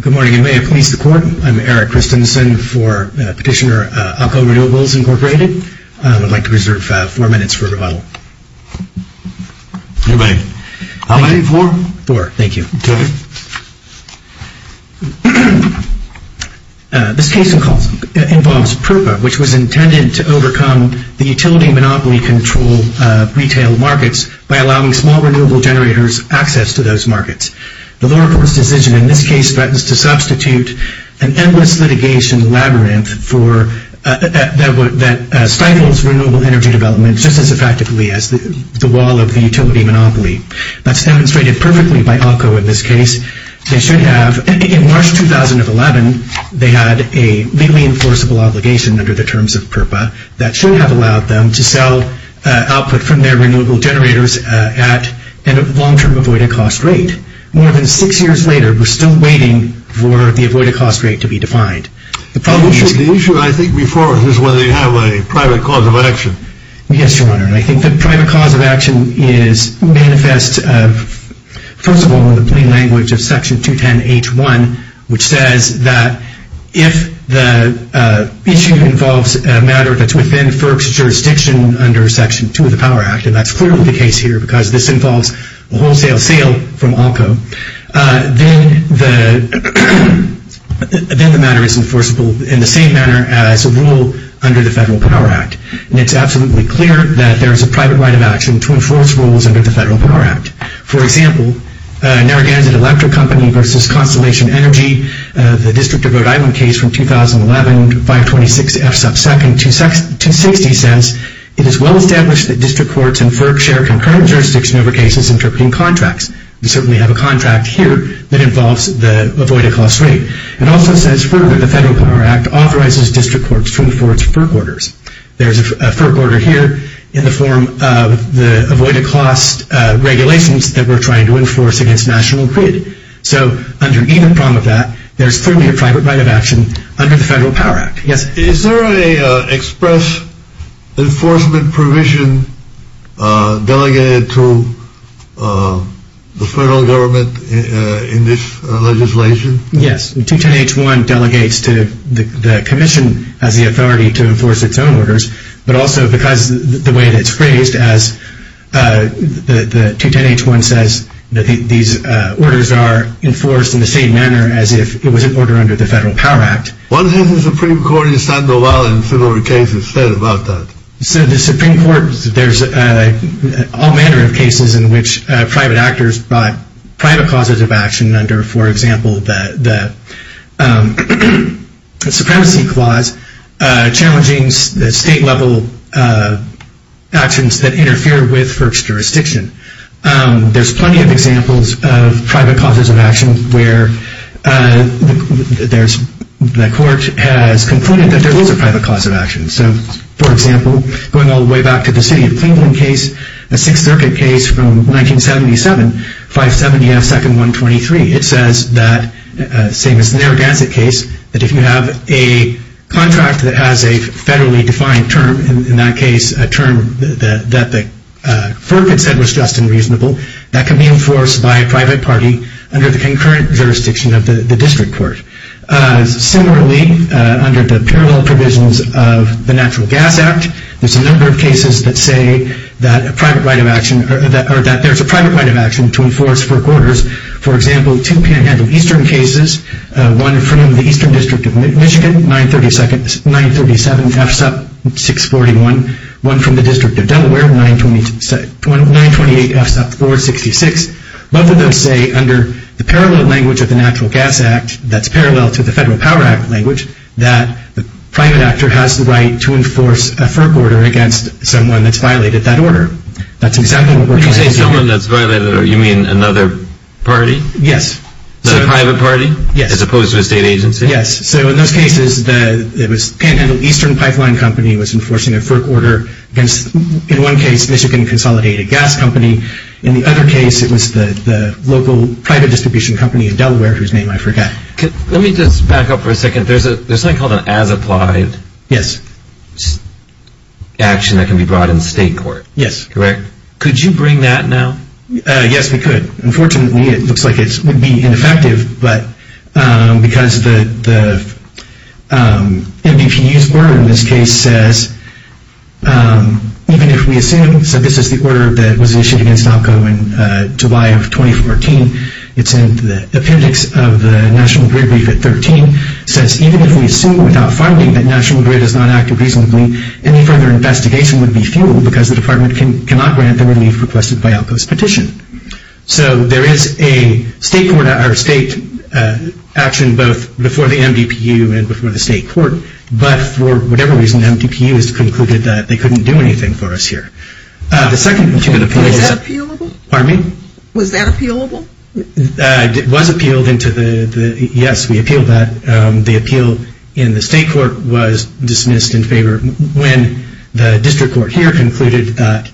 Good morning and may it please the Court, I'm Eric Christensen for Petitioner Alco Renewables, Inc. I would like to reserve four minutes for rebuttal. Anybody? How many? Four? Four, thank you. This case involves PRRPA, which was intended to overcome the utility monopoly control retail markets by allowing small renewable generators access to those markets. The lower course decision in this case threatens to substitute an endless litigation labyrinth that stifles renewable energy development just as effectively as the wall of the utility monopoly. That's demonstrated perfectly by Alco in this case. They should have, in March 2011, they had a legally enforceable obligation under the terms of PRRPA that should have allowed them to sell output from their renewable generators at a long-term avoided cost rate. More than six years later, we're still waiting for the avoided cost rate to be defined. The issue, I think, before is whether they have a private cause of action. Yes, Your Honor, I think the private cause of action is manifest, first of all, in the plain language of Section 210H1, which says that if the issue involves a matter that's within FERC's jurisdiction under Section 2 of the Power Act, and that's clearly the case here because this involves a wholesale sale from Alco, then the matter is enforceable in the same manner as a rule under the Federal Power Act. And it's absolutely clear that there is a private right of action to enforce rules under the Federal Power Act. For example, Narragansett Electric Company versus Constellation Energy, the District of Rhode Island case from 2011, 526F2, 260 says, it is well established that district courts and FERC share concurrent jurisdictions over cases interpreting contracts. We certainly have a contract here that involves the avoided cost rate. It also says FERC, the Federal Power Act, authorizes district courts to enforce FERC orders. There's a FERC order here in the form of the avoided cost regulations that we're trying to enforce against National Grid. So under either prong of that, there's clearly a private right of action under the Federal Power Act. Yes? Is there an express enforcement provision delegated to the federal government in this legislation? Yes. 210H1 delegates to the commission as the authority to enforce its own orders, but also because the way that it's phrased as the 210H1 says that these orders are enforced in the same manner as if it was an order under the Federal Power Act. What has the Supreme Court in Sandoval and similar cases said about that? So the Supreme Court, there's all manner of cases in which private actors brought private causes of action under, for example, the supremacy clause challenging the state-level actions that interfere with FERC's jurisdiction. There's plenty of examples of private causes of action where the court has concluded that there is a private cause of action. So, for example, going all the way back to the City of Cleveland case, a Sixth Circuit case from 1977, 570F2123, it says that, same as the Narragansett case, that if you have a contract that has a federally defined term, in that case a term that the FERC had said was just and reasonable, that can be enforced by a private party under the concurrent jurisdiction of the district court. Similarly, under the parallel provisions of the Natural Gas Act, there's a number of cases that say that there's a private right of action to enforce FERC orders. For example, two Panhandle Eastern cases, one from the Eastern District of Michigan, 937F641, one from the District of Delaware, 928F466. Both of those say, under the parallel language of the Natural Gas Act, that's parallel to the Federal Power Act language, that the private actor has the right to enforce a FERC order against someone that's violated that order. That's exactly what we're trying to do. You say someone that's violated, you mean another party? Yes. Another private party? Yes. As opposed to a state agency? Yes. So, in those cases, it was Panhandle Eastern Pipeline Company was enforcing a FERC order against, in one case, Michigan Consolidated Gas Company. In the other case, it was the local private distribution company in Delaware, whose name I forgot. Let me just back up for a second. There's something called an as-applied action that can be brought in state court. Yes. Correct? Could you bring that now? Yes, we could. Unfortunately, it looks like it would be ineffective, but because the NBPU's order in this case says, even if we assume, so this is the order that was issued against ALCO in July of 2014. It's in the appendix of the National Grid brief at 13. It says, even if we assume without finding that National Grid has not acted reasonably, any further investigation would be futile because the department cannot grant the relief requested by ALCO's petition. So, there is a state action, both before the NBPU and before the state court, but for whatever reason, NBPU has concluded that they couldn't do anything for us here. Was that appealable? Pardon me? Was that appealable? It was appealed. Yes, we appealed that. The appeal in the state court was dismissed in favor when the district court here concluded that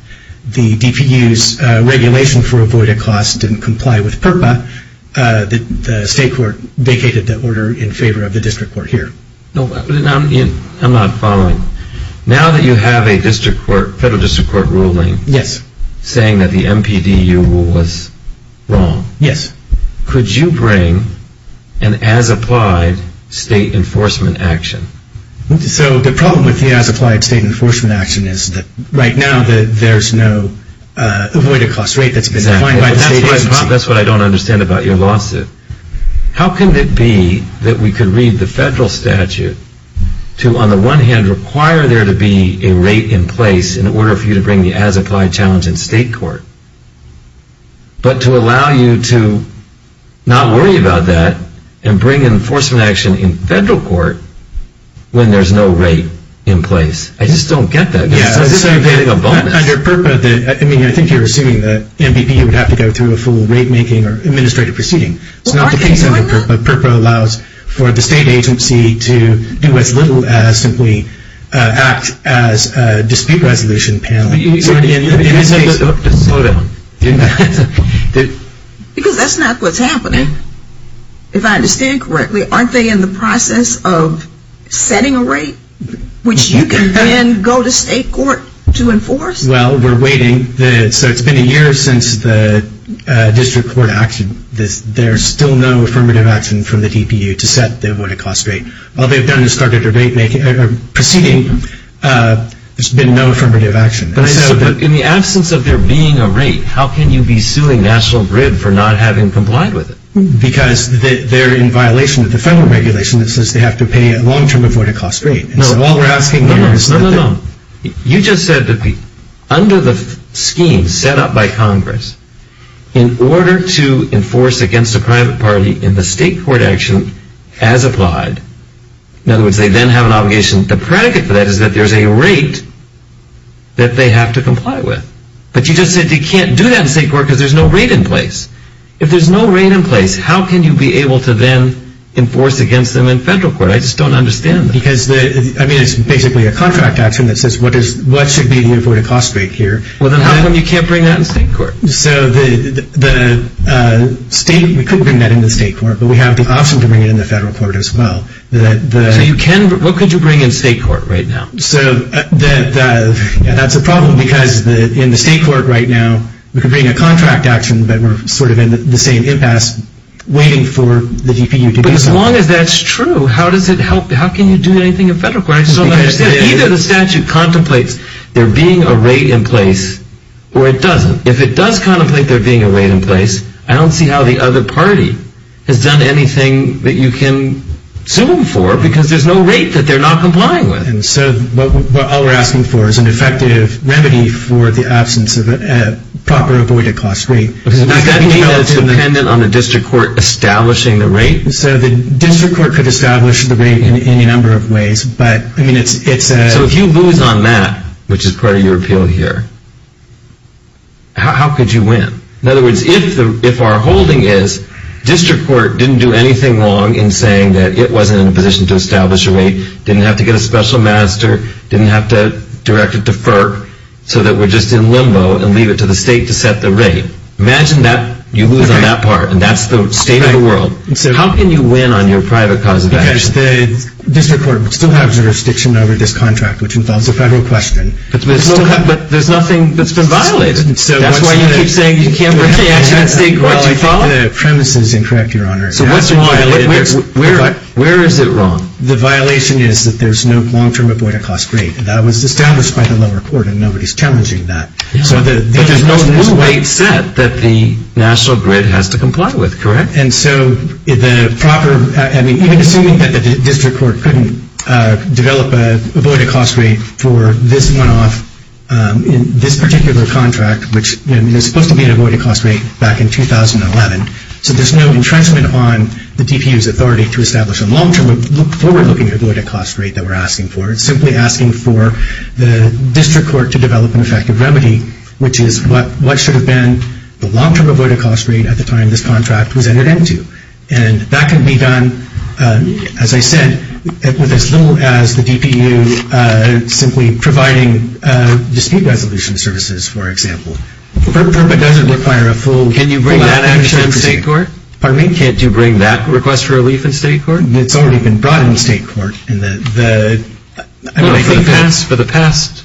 the DPU's regulation for avoidant costs didn't comply with PURPA. The state court vacated the order in favor of the district court here. I'm not following. Now that you have a federal district court ruling saying that the NBPU rule was wrong, could you bring an as-applied state enforcement action? So, the problem with the as-applied state enforcement action is that, right now, there's no avoidant cost rate that's been defined by the state agency. That's what I don't understand about your lawsuit. How can it be that we could read the federal statute to, on the one hand, require there to be a rate in place in order for you to bring the as-applied challenge in state court, but to allow you to not worry about that and bring enforcement action in federal court when there's no rate in place? I just don't get that. I think you're assuming that NBPU would have to go through a full rate-making or administrative proceeding. It's not the case under PURPA. PURPA allows for the state agency to do as little as simply act as a dispute resolution panel. In this case, that's not what's happening. If I understand correctly, aren't they in the process of setting a rate, which you can then go to state court to enforce? Well, we're waiting. So, it's been a year since the district court action. There's still no affirmative action from the DPU to set the avoidant cost rate. All they've done is start a debate proceeding. There's been no affirmative action. But in the absence of there being a rate, how can you be suing National Grid for not having complied with it? Because they're in violation of the federal regulation that says they have to pay a long-term avoidant cost rate. No, no, no. In order to enforce against a private party in the state court action as applied, in other words, they then have an obligation. The predicate for that is that there's a rate that they have to comply with. But you just said they can't do that in state court because there's no rate in place. If there's no rate in place, how can you be able to then enforce against them in federal court? I just don't understand that. Because, I mean, it's basically a contract action that says what should be the avoidant cost rate here. Well, then how come you can't bring that in state court? So the state, we could bring that in the state court, but we have the option to bring it in the federal court as well. So you can, but what could you bring in state court right now? So that's a problem because in the state court right now, we could bring a contract action, but we're sort of in the same impasse waiting for the DPU to do something. But as long as that's true, how does it help? How can you do anything in federal court? Either the statute contemplates there being a rate in place or it doesn't. If it does contemplate there being a rate in place, I don't see how the other party has done anything that you can sue them for because there's no rate that they're not complying with. And so what all we're asking for is an effective remedy for the absence of a proper avoidant cost rate. Does that mean that it's dependent on the district court establishing the rate? So the district court could establish the rate in any number of ways, but I mean it's a... So if you lose on that, which is part of your appeal here, how could you win? In other words, if our holding is district court didn't do anything wrong in saying that it wasn't in a position to establish a rate, didn't have to get a special master, didn't have to direct it to FERC, so that we're just in limbo and leave it to the state to set the rate. Imagine that you lose on that part and that's the state of the world. How can you win on your private cause of action? Because the district court would still have jurisdiction over this contract, which involves a federal question. But there's nothing that's been violated. That's why you keep saying you can't bring the accident state court to fault? Well, I think the premise is incorrect, Your Honor. So what's wrong? Where is it wrong? The violation is that there's no long-term avoidant cost rate. That was established by the lower court and nobody's challenging that. But there's no rule they've set that the national grid has to comply with, correct? And so even assuming that the district court couldn't develop an avoidant cost rate for this one-off, this particular contract, which was supposed to be an avoidant cost rate back in 2011, so there's no entrenchment on the DPU's authority to establish a long-term, forward-looking avoidant cost rate that we're asking for. It's simply asking for the district court to develop an effective remedy, which is what should have been the long-term avoidant cost rate at the time this contract was entered into. And that can be done, as I said, with as little as the DPU simply providing dispute resolution services, for example. But it doesn't require a full-out entrenchment. Can you bring that action in state court? Pardon me? Can't you bring that request for relief in state court? It's already been brought in state court. For the past?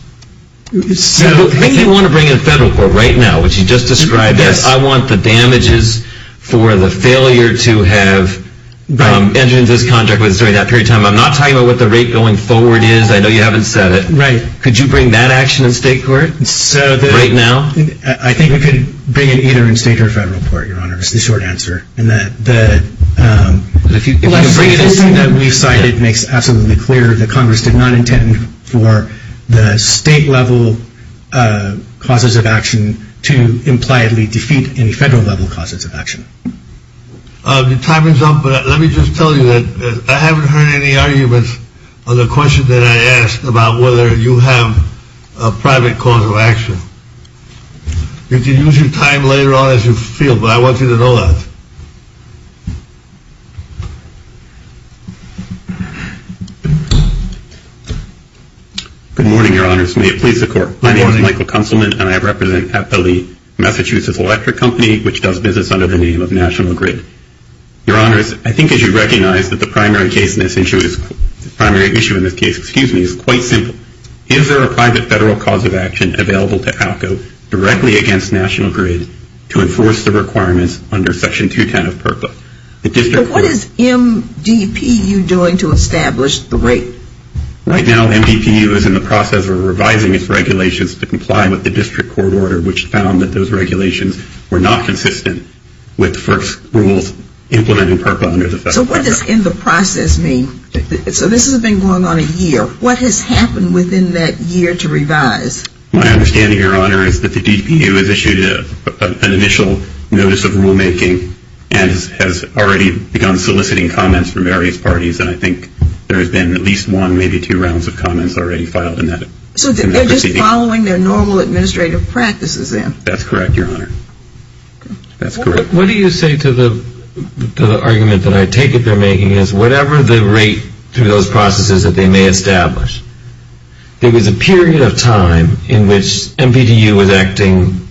I think we want to bring it in federal court right now, which you just described. Yes. I want the damages for the failure to have entered into this contract during that period of time. I'm not talking about what the rate going forward is. I know you haven't said it. Right. Could you bring that action in state court right now? I think we could bring it either in state or federal court, Your Honor, is the short answer. If you can bring it in state court. The thing that we cited makes absolutely clear that Congress did not intend for the state-level causes of action to impliedly defeat any federal-level causes of action. Your time is up, but let me just tell you that I haven't heard any arguments on the question that I asked about whether you have a private cause of action. You can use your time later on as you feel, but I want you to know that. Good morning, Your Honors. May it please the Court. My name is Michael Kunselman, and I represent Hathaway, Massachusetts Electric Company, which does business under the name of National Grid. Your Honors, I think as you recognize that the primary issue in this case is quite simple. Is there a private federal cause of action available to ALCO directly against National Grid to enforce the requirements under Section 210 of PRPA? What is MDPU doing to establish the rate? Right now MDPU is in the process of revising its regulations to comply with the district court order, which found that those regulations were not consistent with first rules implemented in PRPA under the federal contract. So what does in the process mean? So this has been going on a year. What has happened within that year to revise? My understanding, Your Honor, is that the DPU has issued an initial notice of rulemaking and has already begun soliciting comments from various parties, and I think there has been at least one, maybe two rounds of comments already filed in that proceeding. So they're just following their normal administrative practices then? That's correct, Your Honor. That's correct. What do you say to the argument that I take it they're making is whatever the rate through those processes that they may establish. There was a period of time in which MDPU was acting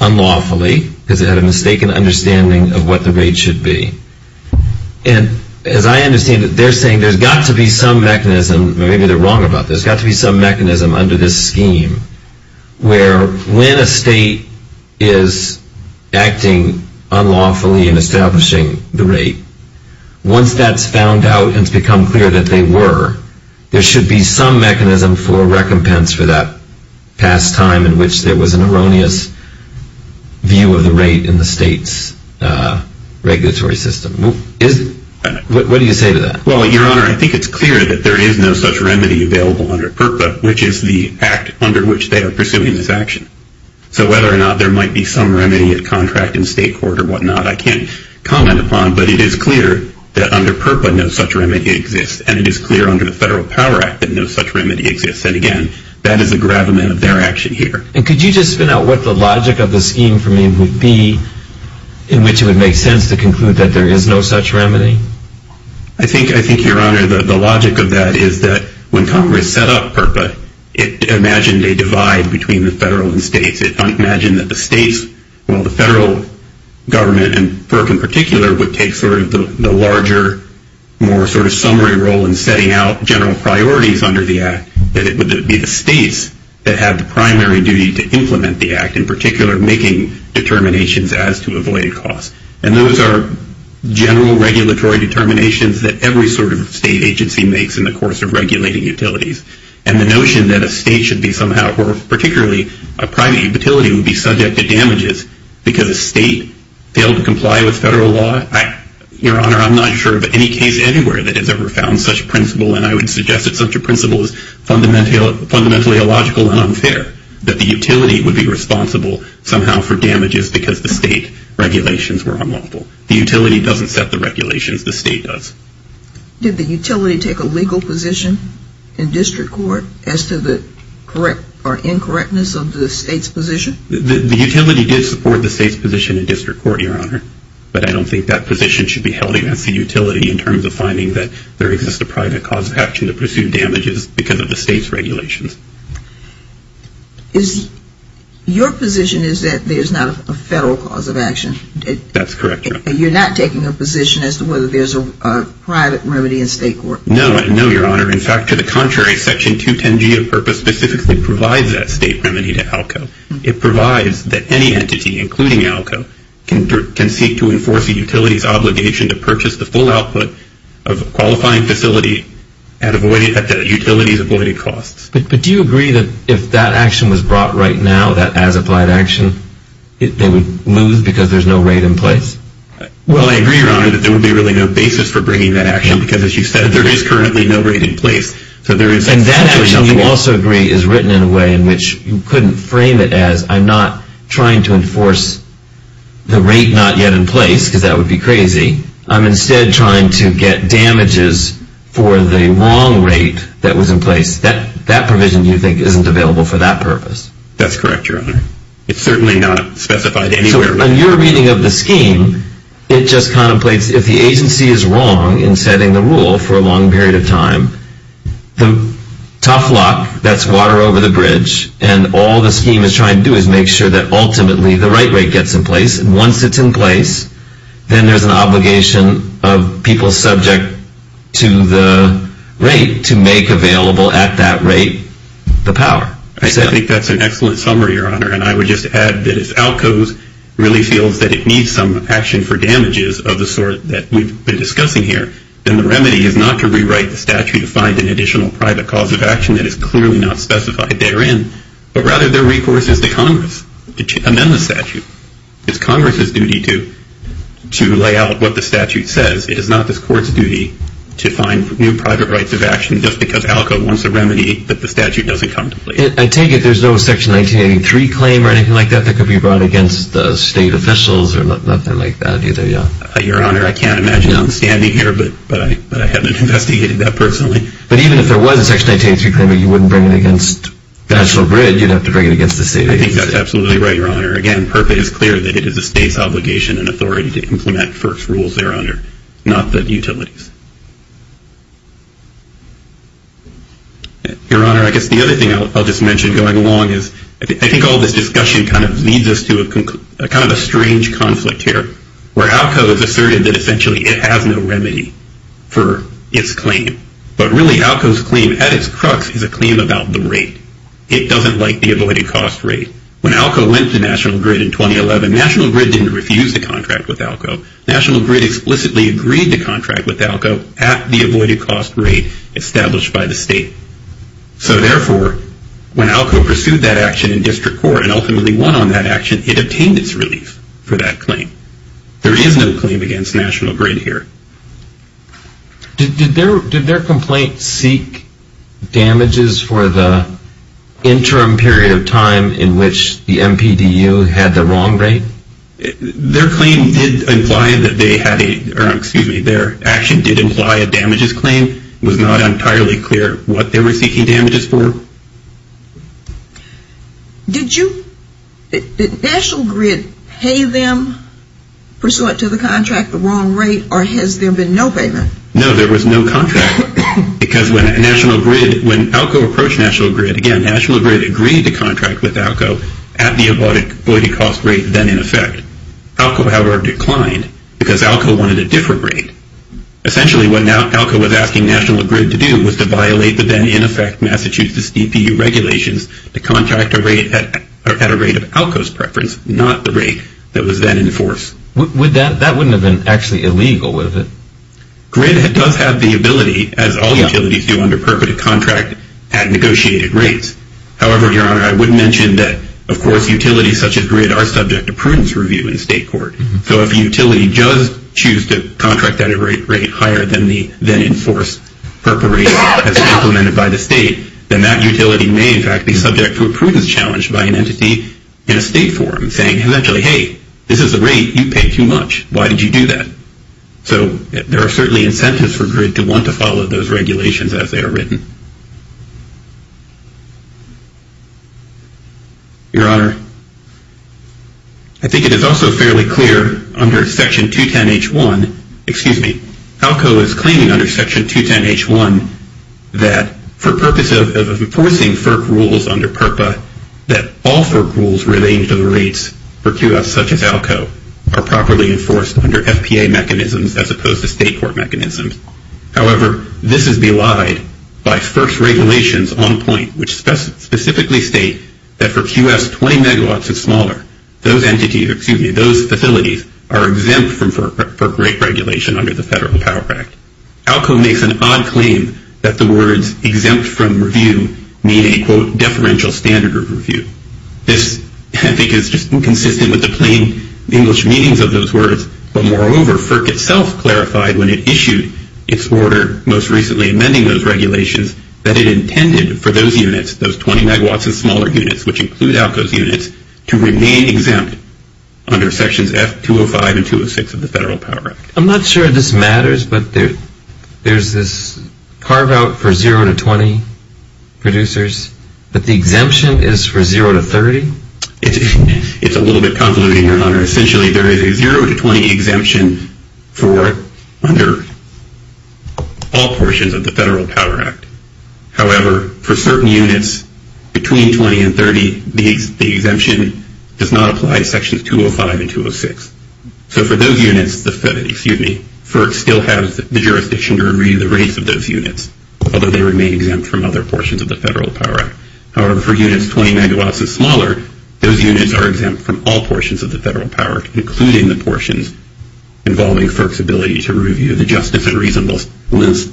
unlawfully because it had a mistaken understanding of what the rate should be. And as I understand it, they're saying there's got to be some mechanism, maybe they're wrong about this, there's got to be some mechanism under this scheme where when a state is acting unlawfully and establishing the rate, once that's found out and it's become clear that they were, there should be some mechanism for recompense for that past time in which there was an erroneous view of the rate in the state's regulatory system. What do you say to that? Well, Your Honor, I think it's clear that there is no such remedy available under PURPA, which is the act under which they are pursuing this action. So whether or not there might be some remedy at contract and state court or whatnot, I can't comment upon, but it is clear that under PURPA no such remedy exists, and it is clear under the Federal Power Act that no such remedy exists. And again, that is a gravamen of their action here. And could you just spin out what the logic of the scheme for me would be in which it would make sense to conclude that there is no such remedy? I think, Your Honor, the logic of that is that when Congress set up PURPA, it imagined a divide between the federal and states. It imagined that the states, well, the federal government, and PURPA in particular, would take sort of the larger, more sort of summary role in setting out general priorities under the act, that it would be the states that have the primary duty to implement the act, in particular making determinations as to avoid costs. And those are general regulatory determinations that every sort of state agency makes in the course of regulating utilities. And the notion that a state should be somehow, or particularly a private utility, would be subject to damages because a state failed to comply with federal law, Your Honor, I'm not sure of any case anywhere that has ever found such principle, and I would suggest that such a principle is fundamentally illogical and unfair, that the utility would be responsible somehow for damages because the state regulations were unlawful. The utility doesn't set the regulations. The state does. Did the utility take a legal position in district court as to the correct or incorrectness of the state's position? The utility did support the state's position in district court, Your Honor, but I don't think that position should be held against the utility in terms of finding that there exists a private cause of action to pursue damages because of the state's regulations. Your position is that there's not a federal cause of action. That's correct, Your Honor. You're not taking a position as to whether there's a private remedy in state court? No, Your Honor. In fact, to the contrary, Section 210G of purpose specifically provides that state remedy to ALCO. It provides that any entity, including ALCO, can seek to enforce a utility's obligation to purchase the full output of a qualifying facility at the utility's avoided costs. But do you agree that if that action was brought right now, that as applied action, they would lose because there's no rate in place? Well, I agree, Your Honor, that there would be really no basis for bringing that action because, as you said, there is currently no rate in place. And that action, you also agree, is written in a way in which you couldn't frame it as I'm not trying to enforce the rate not yet in place because that would be crazy. I'm instead trying to get damages for the wrong rate that was in place. That provision, do you think, isn't available for that purpose? That's correct, Your Honor. It's certainly not specified anywhere. So in your reading of the scheme, it just contemplates if the agency is wrong in setting the rule for a long period of time, the tough luck, that's water over the bridge, and all the scheme is trying to do is make sure that ultimately the right rate gets in place. And once it's in place, then there's an obligation of people subject to the rate to make available at that rate the power. I think that's an excellent summary, Your Honor. And I would just add that if ALCO really feels that it needs some action for damages of the sort that we've been discussing here, then the remedy is not to rewrite the statute to find an additional private cause of action that is clearly not specified therein, but rather the recourse is to Congress to amend the statute. It's Congress's duty to lay out what the statute says. It is not this Court's duty to find new private rights of action just because ALCO wants a remedy that the statute doesn't contemplate. I take it there's no Section 1983 claim or anything like that that could be brought against the state officials or nothing like that either, Your Honor? Your Honor, I can't imagine standing here, but I haven't investigated that personally. But even if there was a Section 1983 claim, but you wouldn't bring it against National Grid, you'd have to bring it against the state agency. I think that's absolutely right, Your Honor. Again, FERPA is clear that it is the state's obligation and authority to implement FERC's rules there, Your Honor, I guess the other thing I'll just mention going along is, I think all this discussion kind of leads us to kind of a strange conflict here, where ALCO has asserted that essentially it has no remedy for its claim. But really, ALCO's claim at its crux is a claim about the rate. It doesn't like the avoided cost rate. When ALCO went to National Grid in 2011, National Grid didn't refuse the contract with ALCO. National Grid explicitly agreed to contract with ALCO at the avoided cost rate established by the state. So therefore, when ALCO pursued that action in district court and ultimately won on that action, it obtained its relief for that claim. There is no claim against National Grid here. Did their complaint seek damages for the interim period of time in which the MPDU had the wrong rate? Their action did imply a damages claim. It was not entirely clear what they were seeking damages for. Did National Grid pay them pursuant to the contract the wrong rate, or has there been no payment? No, there was no contract. Because when ALCO approached National Grid, again, National Grid agreed to contract with ALCO at the avoided cost rate then in effect. ALCO, however, declined because ALCO wanted a different rate. Essentially, what ALCO was asking National Grid to do was to violate the then in effect Massachusetts DPU regulations to contract at a rate of ALCO's preference, not the rate that was then in force. That wouldn't have been actually illegal, would it? Grid does have the ability, as all utilities do under purported contract, at negotiated rates. However, Your Honor, I would mention that, of course, utilities such as Grid are subject to prudence review in state court. So if a utility does choose to contract at a rate higher than the then in force purple rate as implemented by the state, then that utility may in fact be subject to a prudence challenge by an entity in a state forum saying, essentially, hey, this is a rate you paid too much. Why did you do that? So there are certainly incentives for Grid to want to follow those regulations as they are written. Your Honor, I think it is also fairly clear under Section 210H1, excuse me, ALCO is claiming under Section 210H1 that for purposes of enforcing FERC rules under PURPA, that all FERC rules relating to the rates for QS, such as ALCO, are properly enforced under FPA mechanisms as opposed to state court mechanisms. However, this is belied by FERC's regulations on point, which specifically state that for QS, 20 megawatts is smaller. Those facilities are exempt from FERC rate regulation under the Federal Power Act. ALCO makes an odd claim that the words exempt from review mean a, quote, deferential standard of review. This, I think, is just inconsistent with the plain English meanings of those words. But moreover, FERC itself clarified when it issued its order most recently amending those regulations that it intended for those units, those 20 megawatts and smaller units, which include ALCO's units, to remain exempt under Sections F205 and 206 of the Federal Power Act. I'm not sure if this matters, but there's this carve out for 0 to 20 producers, but the exemption is for 0 to 30? It's a little bit convoluted, Your Honor. Essentially, there is a 0 to 20 exemption for it under all portions of the Federal Power Act. However, for certain units between 20 and 30, the exemption does not apply to Sections 205 and 206. So for those units, excuse me, FERC still has the jurisdiction to review the rates of those units, although they remain exempt from other portions of the Federal Power Act. However, for units 20 megawatts and smaller, those units are exempt from all portions of the Federal Power Act, including the portions involving FERC's ability to review the justice and reasonableness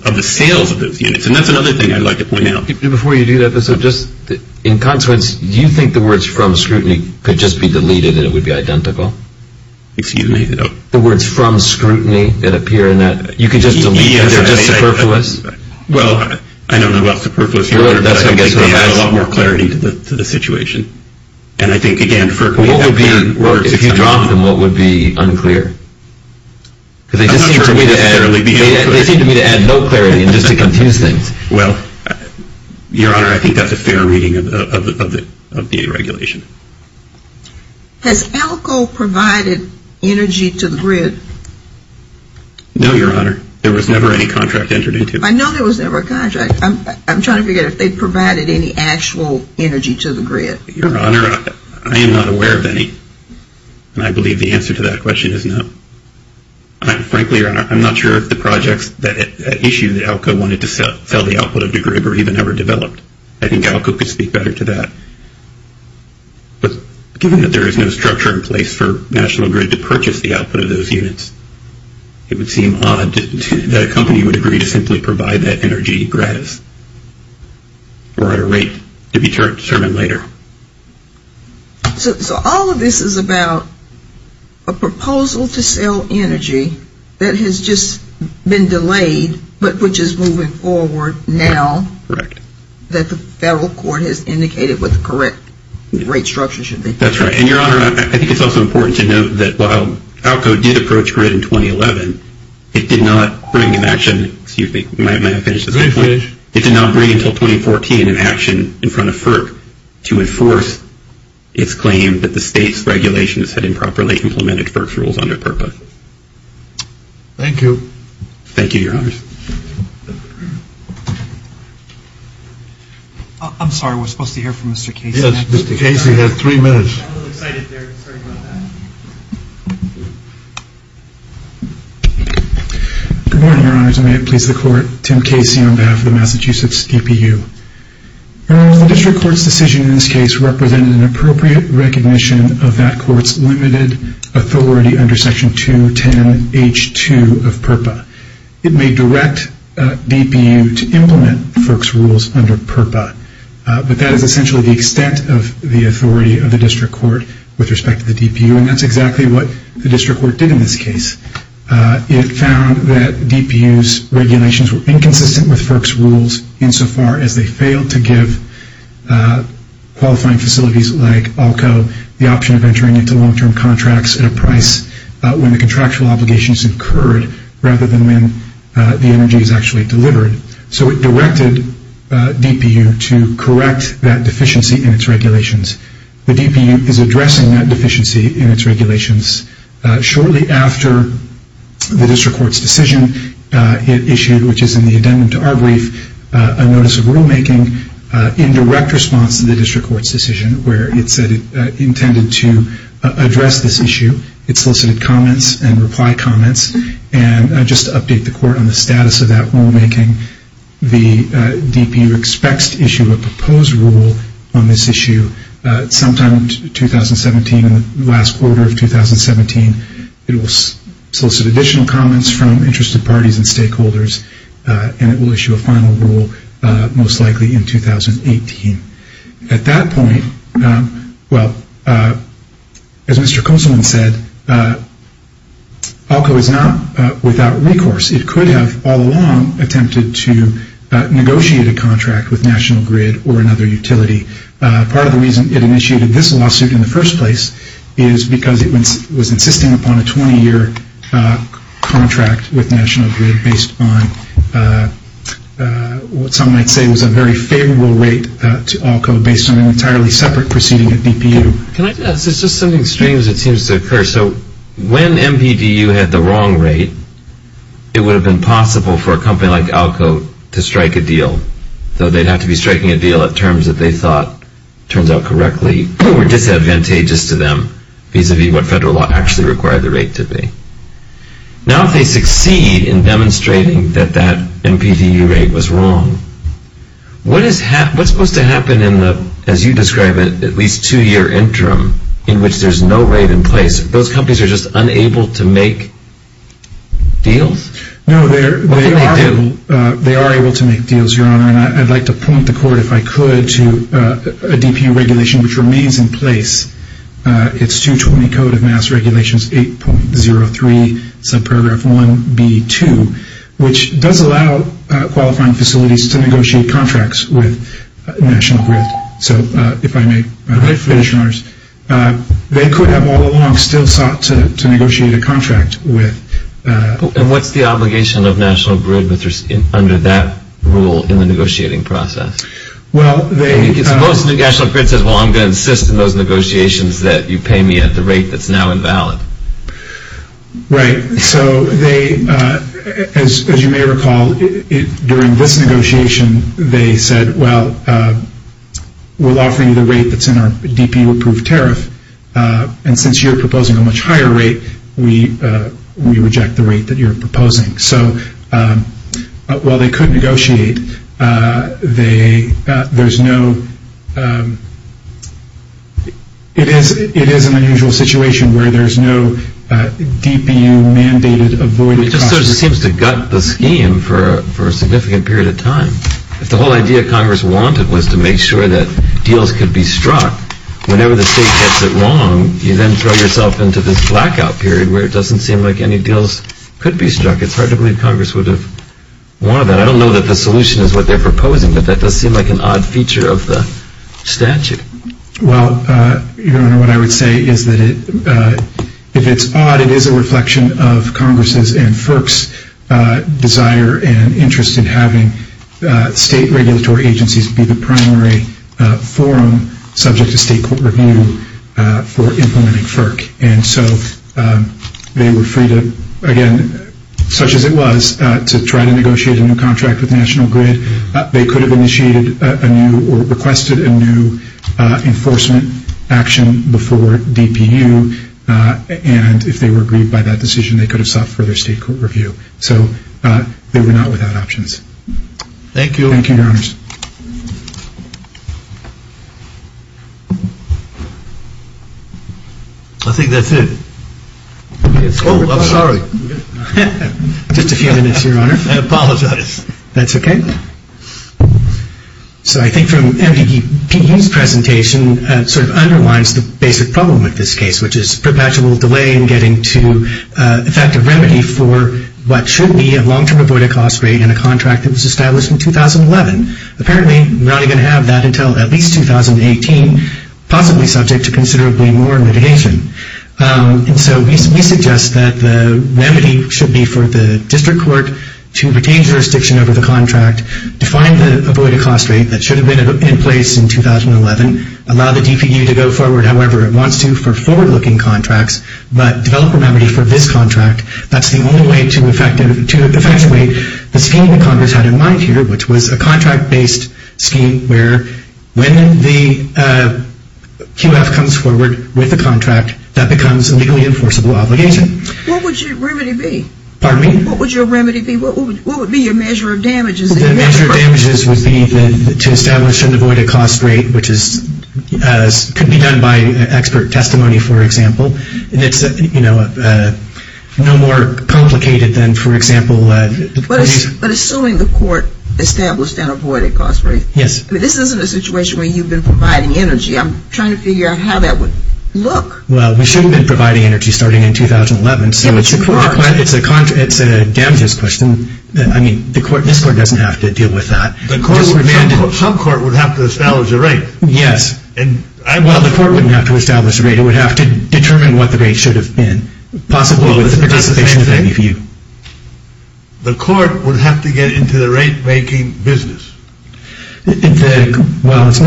of the sales of those units. And that's another thing I'd like to point out. Before you do that, in consequence, do you think the words from scrutiny could just be deleted and it would be identical? Excuse me? The words from scrutiny that appear in that, you could just delete them. They're just superfluous? Well, I don't know about superfluous, Your Honor, but I think they add a lot more clarity to the situation. And I think, again, FERC may have their words. If you dropped them, what would be unclear? I'm not sure it would necessarily be unclear. They seem to me to add no clarity and just to confuse things. Well, Your Honor, I think that's a fair reading of the regulation. Has ALCO provided energy to the grid? No, Your Honor. There was never any contract entered into. I know there was never a contract. I'm trying to figure out if they provided any actual energy to the grid. Your Honor, I am not aware of any. And I believe the answer to that question is no. Frankly, Your Honor, I'm not sure if the projects that issue that ALCO wanted to sell the output of the grid were even ever developed. I think ALCO could speak better to that. But given that there is no structure in place for National Grid to purchase the output of those units, it would seem odd that a company would agree to simply provide that energy gratis or at a rate to be determined later. So all of this is about a proposal to sell energy that has just been delayed but which is moving forward now. Correct. That the federal court has indicated what the correct rate structure should be. That's right. And, Your Honor, I think it's also important to note that while ALCO did approach grid in 2011, it did not bring in action, excuse me, it did not bring until 2014 in action in front of FERC to enforce its claim that the state's regulations had improperly implemented FERC's rules on their purpose. Thank you. Thank you, Your Honor. I'm sorry, we're supposed to hear from Mr. Casey. Yes, Mr. Casey has three minutes. I'm a little excited there, sorry about that. Good morning, Your Honors, and may it please the court. Tim Casey on behalf of the Massachusetts DPU. The district court's decision in this case represented an appropriate recognition of that court's limited authority under Section 210H2 of PURPA. It may direct DPU to implement FERC's rules under PURPA, but that is essentially the extent of the authority of the district court with respect to the DPU, and that's exactly what the district court did in this case. It found that DPU's regulations were inconsistent with FERC's rules insofar as they failed to give qualifying facilities like ALCO the option of entering into long-term contracts at a price when the contractual obligation is incurred rather than when the energy is actually delivered. So it directed DPU to correct that deficiency in its regulations. The DPU is addressing that deficiency in its regulations. Shortly after the district court's decision, it issued, which is in the addendum to our brief, a notice of rulemaking in direct response to the district court's decision, where it said it intended to address this issue. It solicited comments and reply comments. And just to update the court on the status of that rulemaking, the DPU expects to issue a proposed rule on this issue sometime in 2017, in the last quarter of 2017. It will solicit additional comments from interested parties and stakeholders, and it will issue a final rule most likely in 2018. At that point, well, as Mr. Kosselman said, ALCO is not without recourse. It could have all along attempted to negotiate a contract with National Grid or another utility. Part of the reason it initiated this lawsuit in the first place is because it was insisting upon a 20-year contract with National Grid based on what some might say was a very favorable rate to ALCO based on an entirely separate proceeding at DPU. It's just something strange that seems to occur. So when MPDU had the wrong rate, it would have been possible for a company like ALCO to strike a deal, though they'd have to be striking a deal at terms that they thought, turns out correctly, were disadvantageous to them vis-à-vis what federal law actually required the rate to be. Now if they succeed in demonstrating that that MPDU rate was wrong, what's supposed to happen in the, as you describe it, at least two-year interim in which there's no rate in place? Those companies are just unable to make deals? No, they are able to make deals, Your Honor, and I'd like to point the court, if I could, to a DPU regulation which remains in place. It's 220 Code of Mass Regulations 8.03 sub-paragraph 1B2, which does allow qualifying facilities to negotiate contracts with National Grid. So if I may finish, Your Honors. They could have all along still sought to negotiate a contract with... And what's the obligation of National Grid under that rule in the negotiating process? Well, they... Most National Grid says, well, I'm going to insist in those negotiations that you pay me at the rate that's now invalid. Right. So they, as you may recall, during this negotiation, they said, well, we'll offer you the rate that's in our DPU approved tariff, and since you're proposing a much higher rate, we reject the rate that you're proposing. So while they could negotiate, they... There's no... It is an unusual situation where there's no DPU mandated avoid... It just sort of seems to gut the scheme for a significant period of time. If the whole idea Congress wanted was to make sure that deals could be struck, whenever the state gets it wrong, you then throw yourself into this blackout period where it doesn't seem like any deals could be struck. It's hard to believe Congress would have wanted that. I don't know that the solution is what they're proposing, but that does seem like an odd feature of the statute. Well, Your Honor, what I would say is that if it's odd, it is a reflection of Congress's and FERC's desire and interest in having state regulatory agencies be the primary forum subject to state court review for implementing FERC. And so they were free to, again, such as it was, to try to negotiate a new contract with National Grid. They could have initiated a new or requested a new enforcement action before DPU, and if they were aggrieved by that decision, they could have sought further state court review. So they were not without options. Thank you. Thank you, Your Honors. I think that's it. Oh, I'm sorry. Just a few minutes, Your Honor. I apologize. That's okay. So I think from MDPU's presentation, it sort of underlines the basic problem with this case, which is perpetual delay in getting to effective remedy for what should be a long-term avoided cost rate in a contract that was established in 2011. Apparently, we're not even going to have that until at least 2018, possibly subject to considerably more mitigation. And so we suggest that the remedy should be for the district court to retain jurisdiction over the contract, define the avoided cost rate that should have been in place in 2011, allow the DPU to go forward however it wants to for forward-looking contracts, but develop a remedy for this contract. That's the only way to effectuate the scheme that Congress had in mind here, which was a contract-based scheme where when the QF comes forward with a contract, that becomes a legally enforceable obligation. What would your remedy be? Pardon me? What would your remedy be? What would be your measure of damages? The measure of damages would be to establish an avoided cost rate, which could be done by expert testimony, for example. And it's, you know, no more complicated than, for example. But assuming the court established an avoided cost rate. Yes. I mean, this isn't a situation where you've been providing energy. I'm trying to figure out how that would look. Well, we shouldn't have been providing energy starting in 2011. Yeah, but you are. It's a damages question. I mean, this court doesn't have to deal with that. Some court would have to establish a rate. Yes. Well, the court wouldn't have to establish a rate. It would have to determine what the rate should have been, possibly with the participation of any of you. The court would have to get into the rate-making business. Well, it's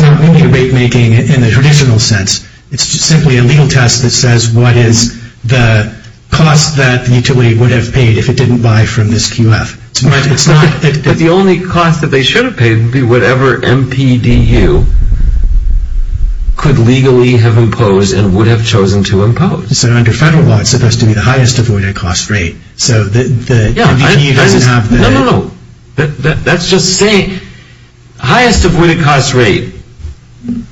not really rate-making in the traditional sense. It's just simply a legal test that says what is the cost that the utility would have paid if it didn't buy from this QF. But the only cost that they should have paid would be whatever MPDU could legally have imposed and would have chosen to impose. So under federal law, it's supposed to be the highest avoided cost rate. So the MPDU doesn't have the… No, no, no. That's just saying highest avoided cost rate.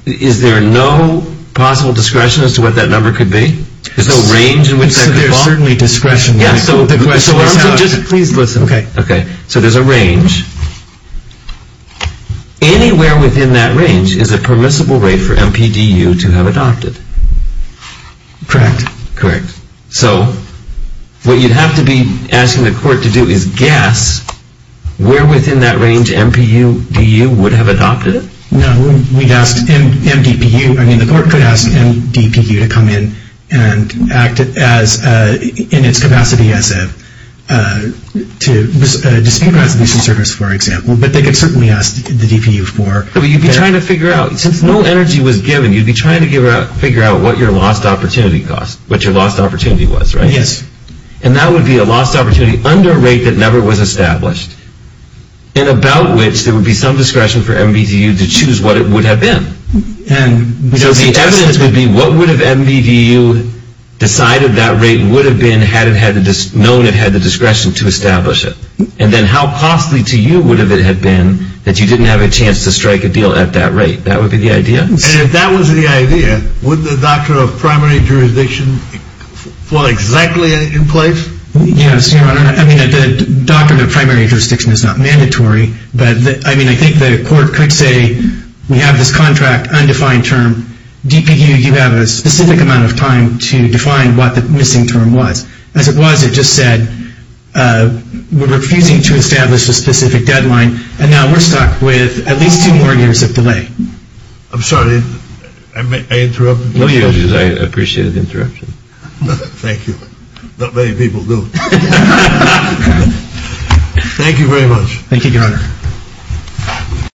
Is there no possible discretion as to what that number could be? There's no range in which that could fall? There's certainly discretion. So just please listen. Okay. Okay. So there's a range. Anywhere within that range is a permissible rate for MPDU to have adopted. Correct. Correct. So what you'd have to be asking the court to do is guess where within that range MPDU would have adopted it? No, we'd ask MDPU. I mean, the court could ask MDPU to come in and act in its capacity as a dispute resolution service, for example. But they could certainly ask the DPU for… But you'd be trying to figure out, since no energy was given, you'd be trying to figure out what your lost opportunity cost, what your lost opportunity was, right? Yes. And that would be a lost opportunity under a rate that never was established and about which there would be some discretion for MPDU to choose what it would have been. And… So the evidence would be what would have MPDU decided that rate would have been had it known it had the discretion to establish it? And then how costly to you would it have been that you didn't have a chance to strike a deal at that rate? That would be the idea? And if that was the idea, would the Doctrine of Primary Jurisdiction fall exactly in place? Yes, Your Honor. I mean, the Doctrine of Primary Jurisdiction is not mandatory. But, I mean, I think the court could say, we have this contract, undefined term. DPU, you have a specific amount of time to define what the missing term was. As it was, it just said, we're refusing to establish a specific deadline. And now we're stuck with at least two more years of delay. I'm sorry, did I interrupt? No, Your Honor, I appreciate the interruption. Thank you. Not many people do. Thank you, Your Honor.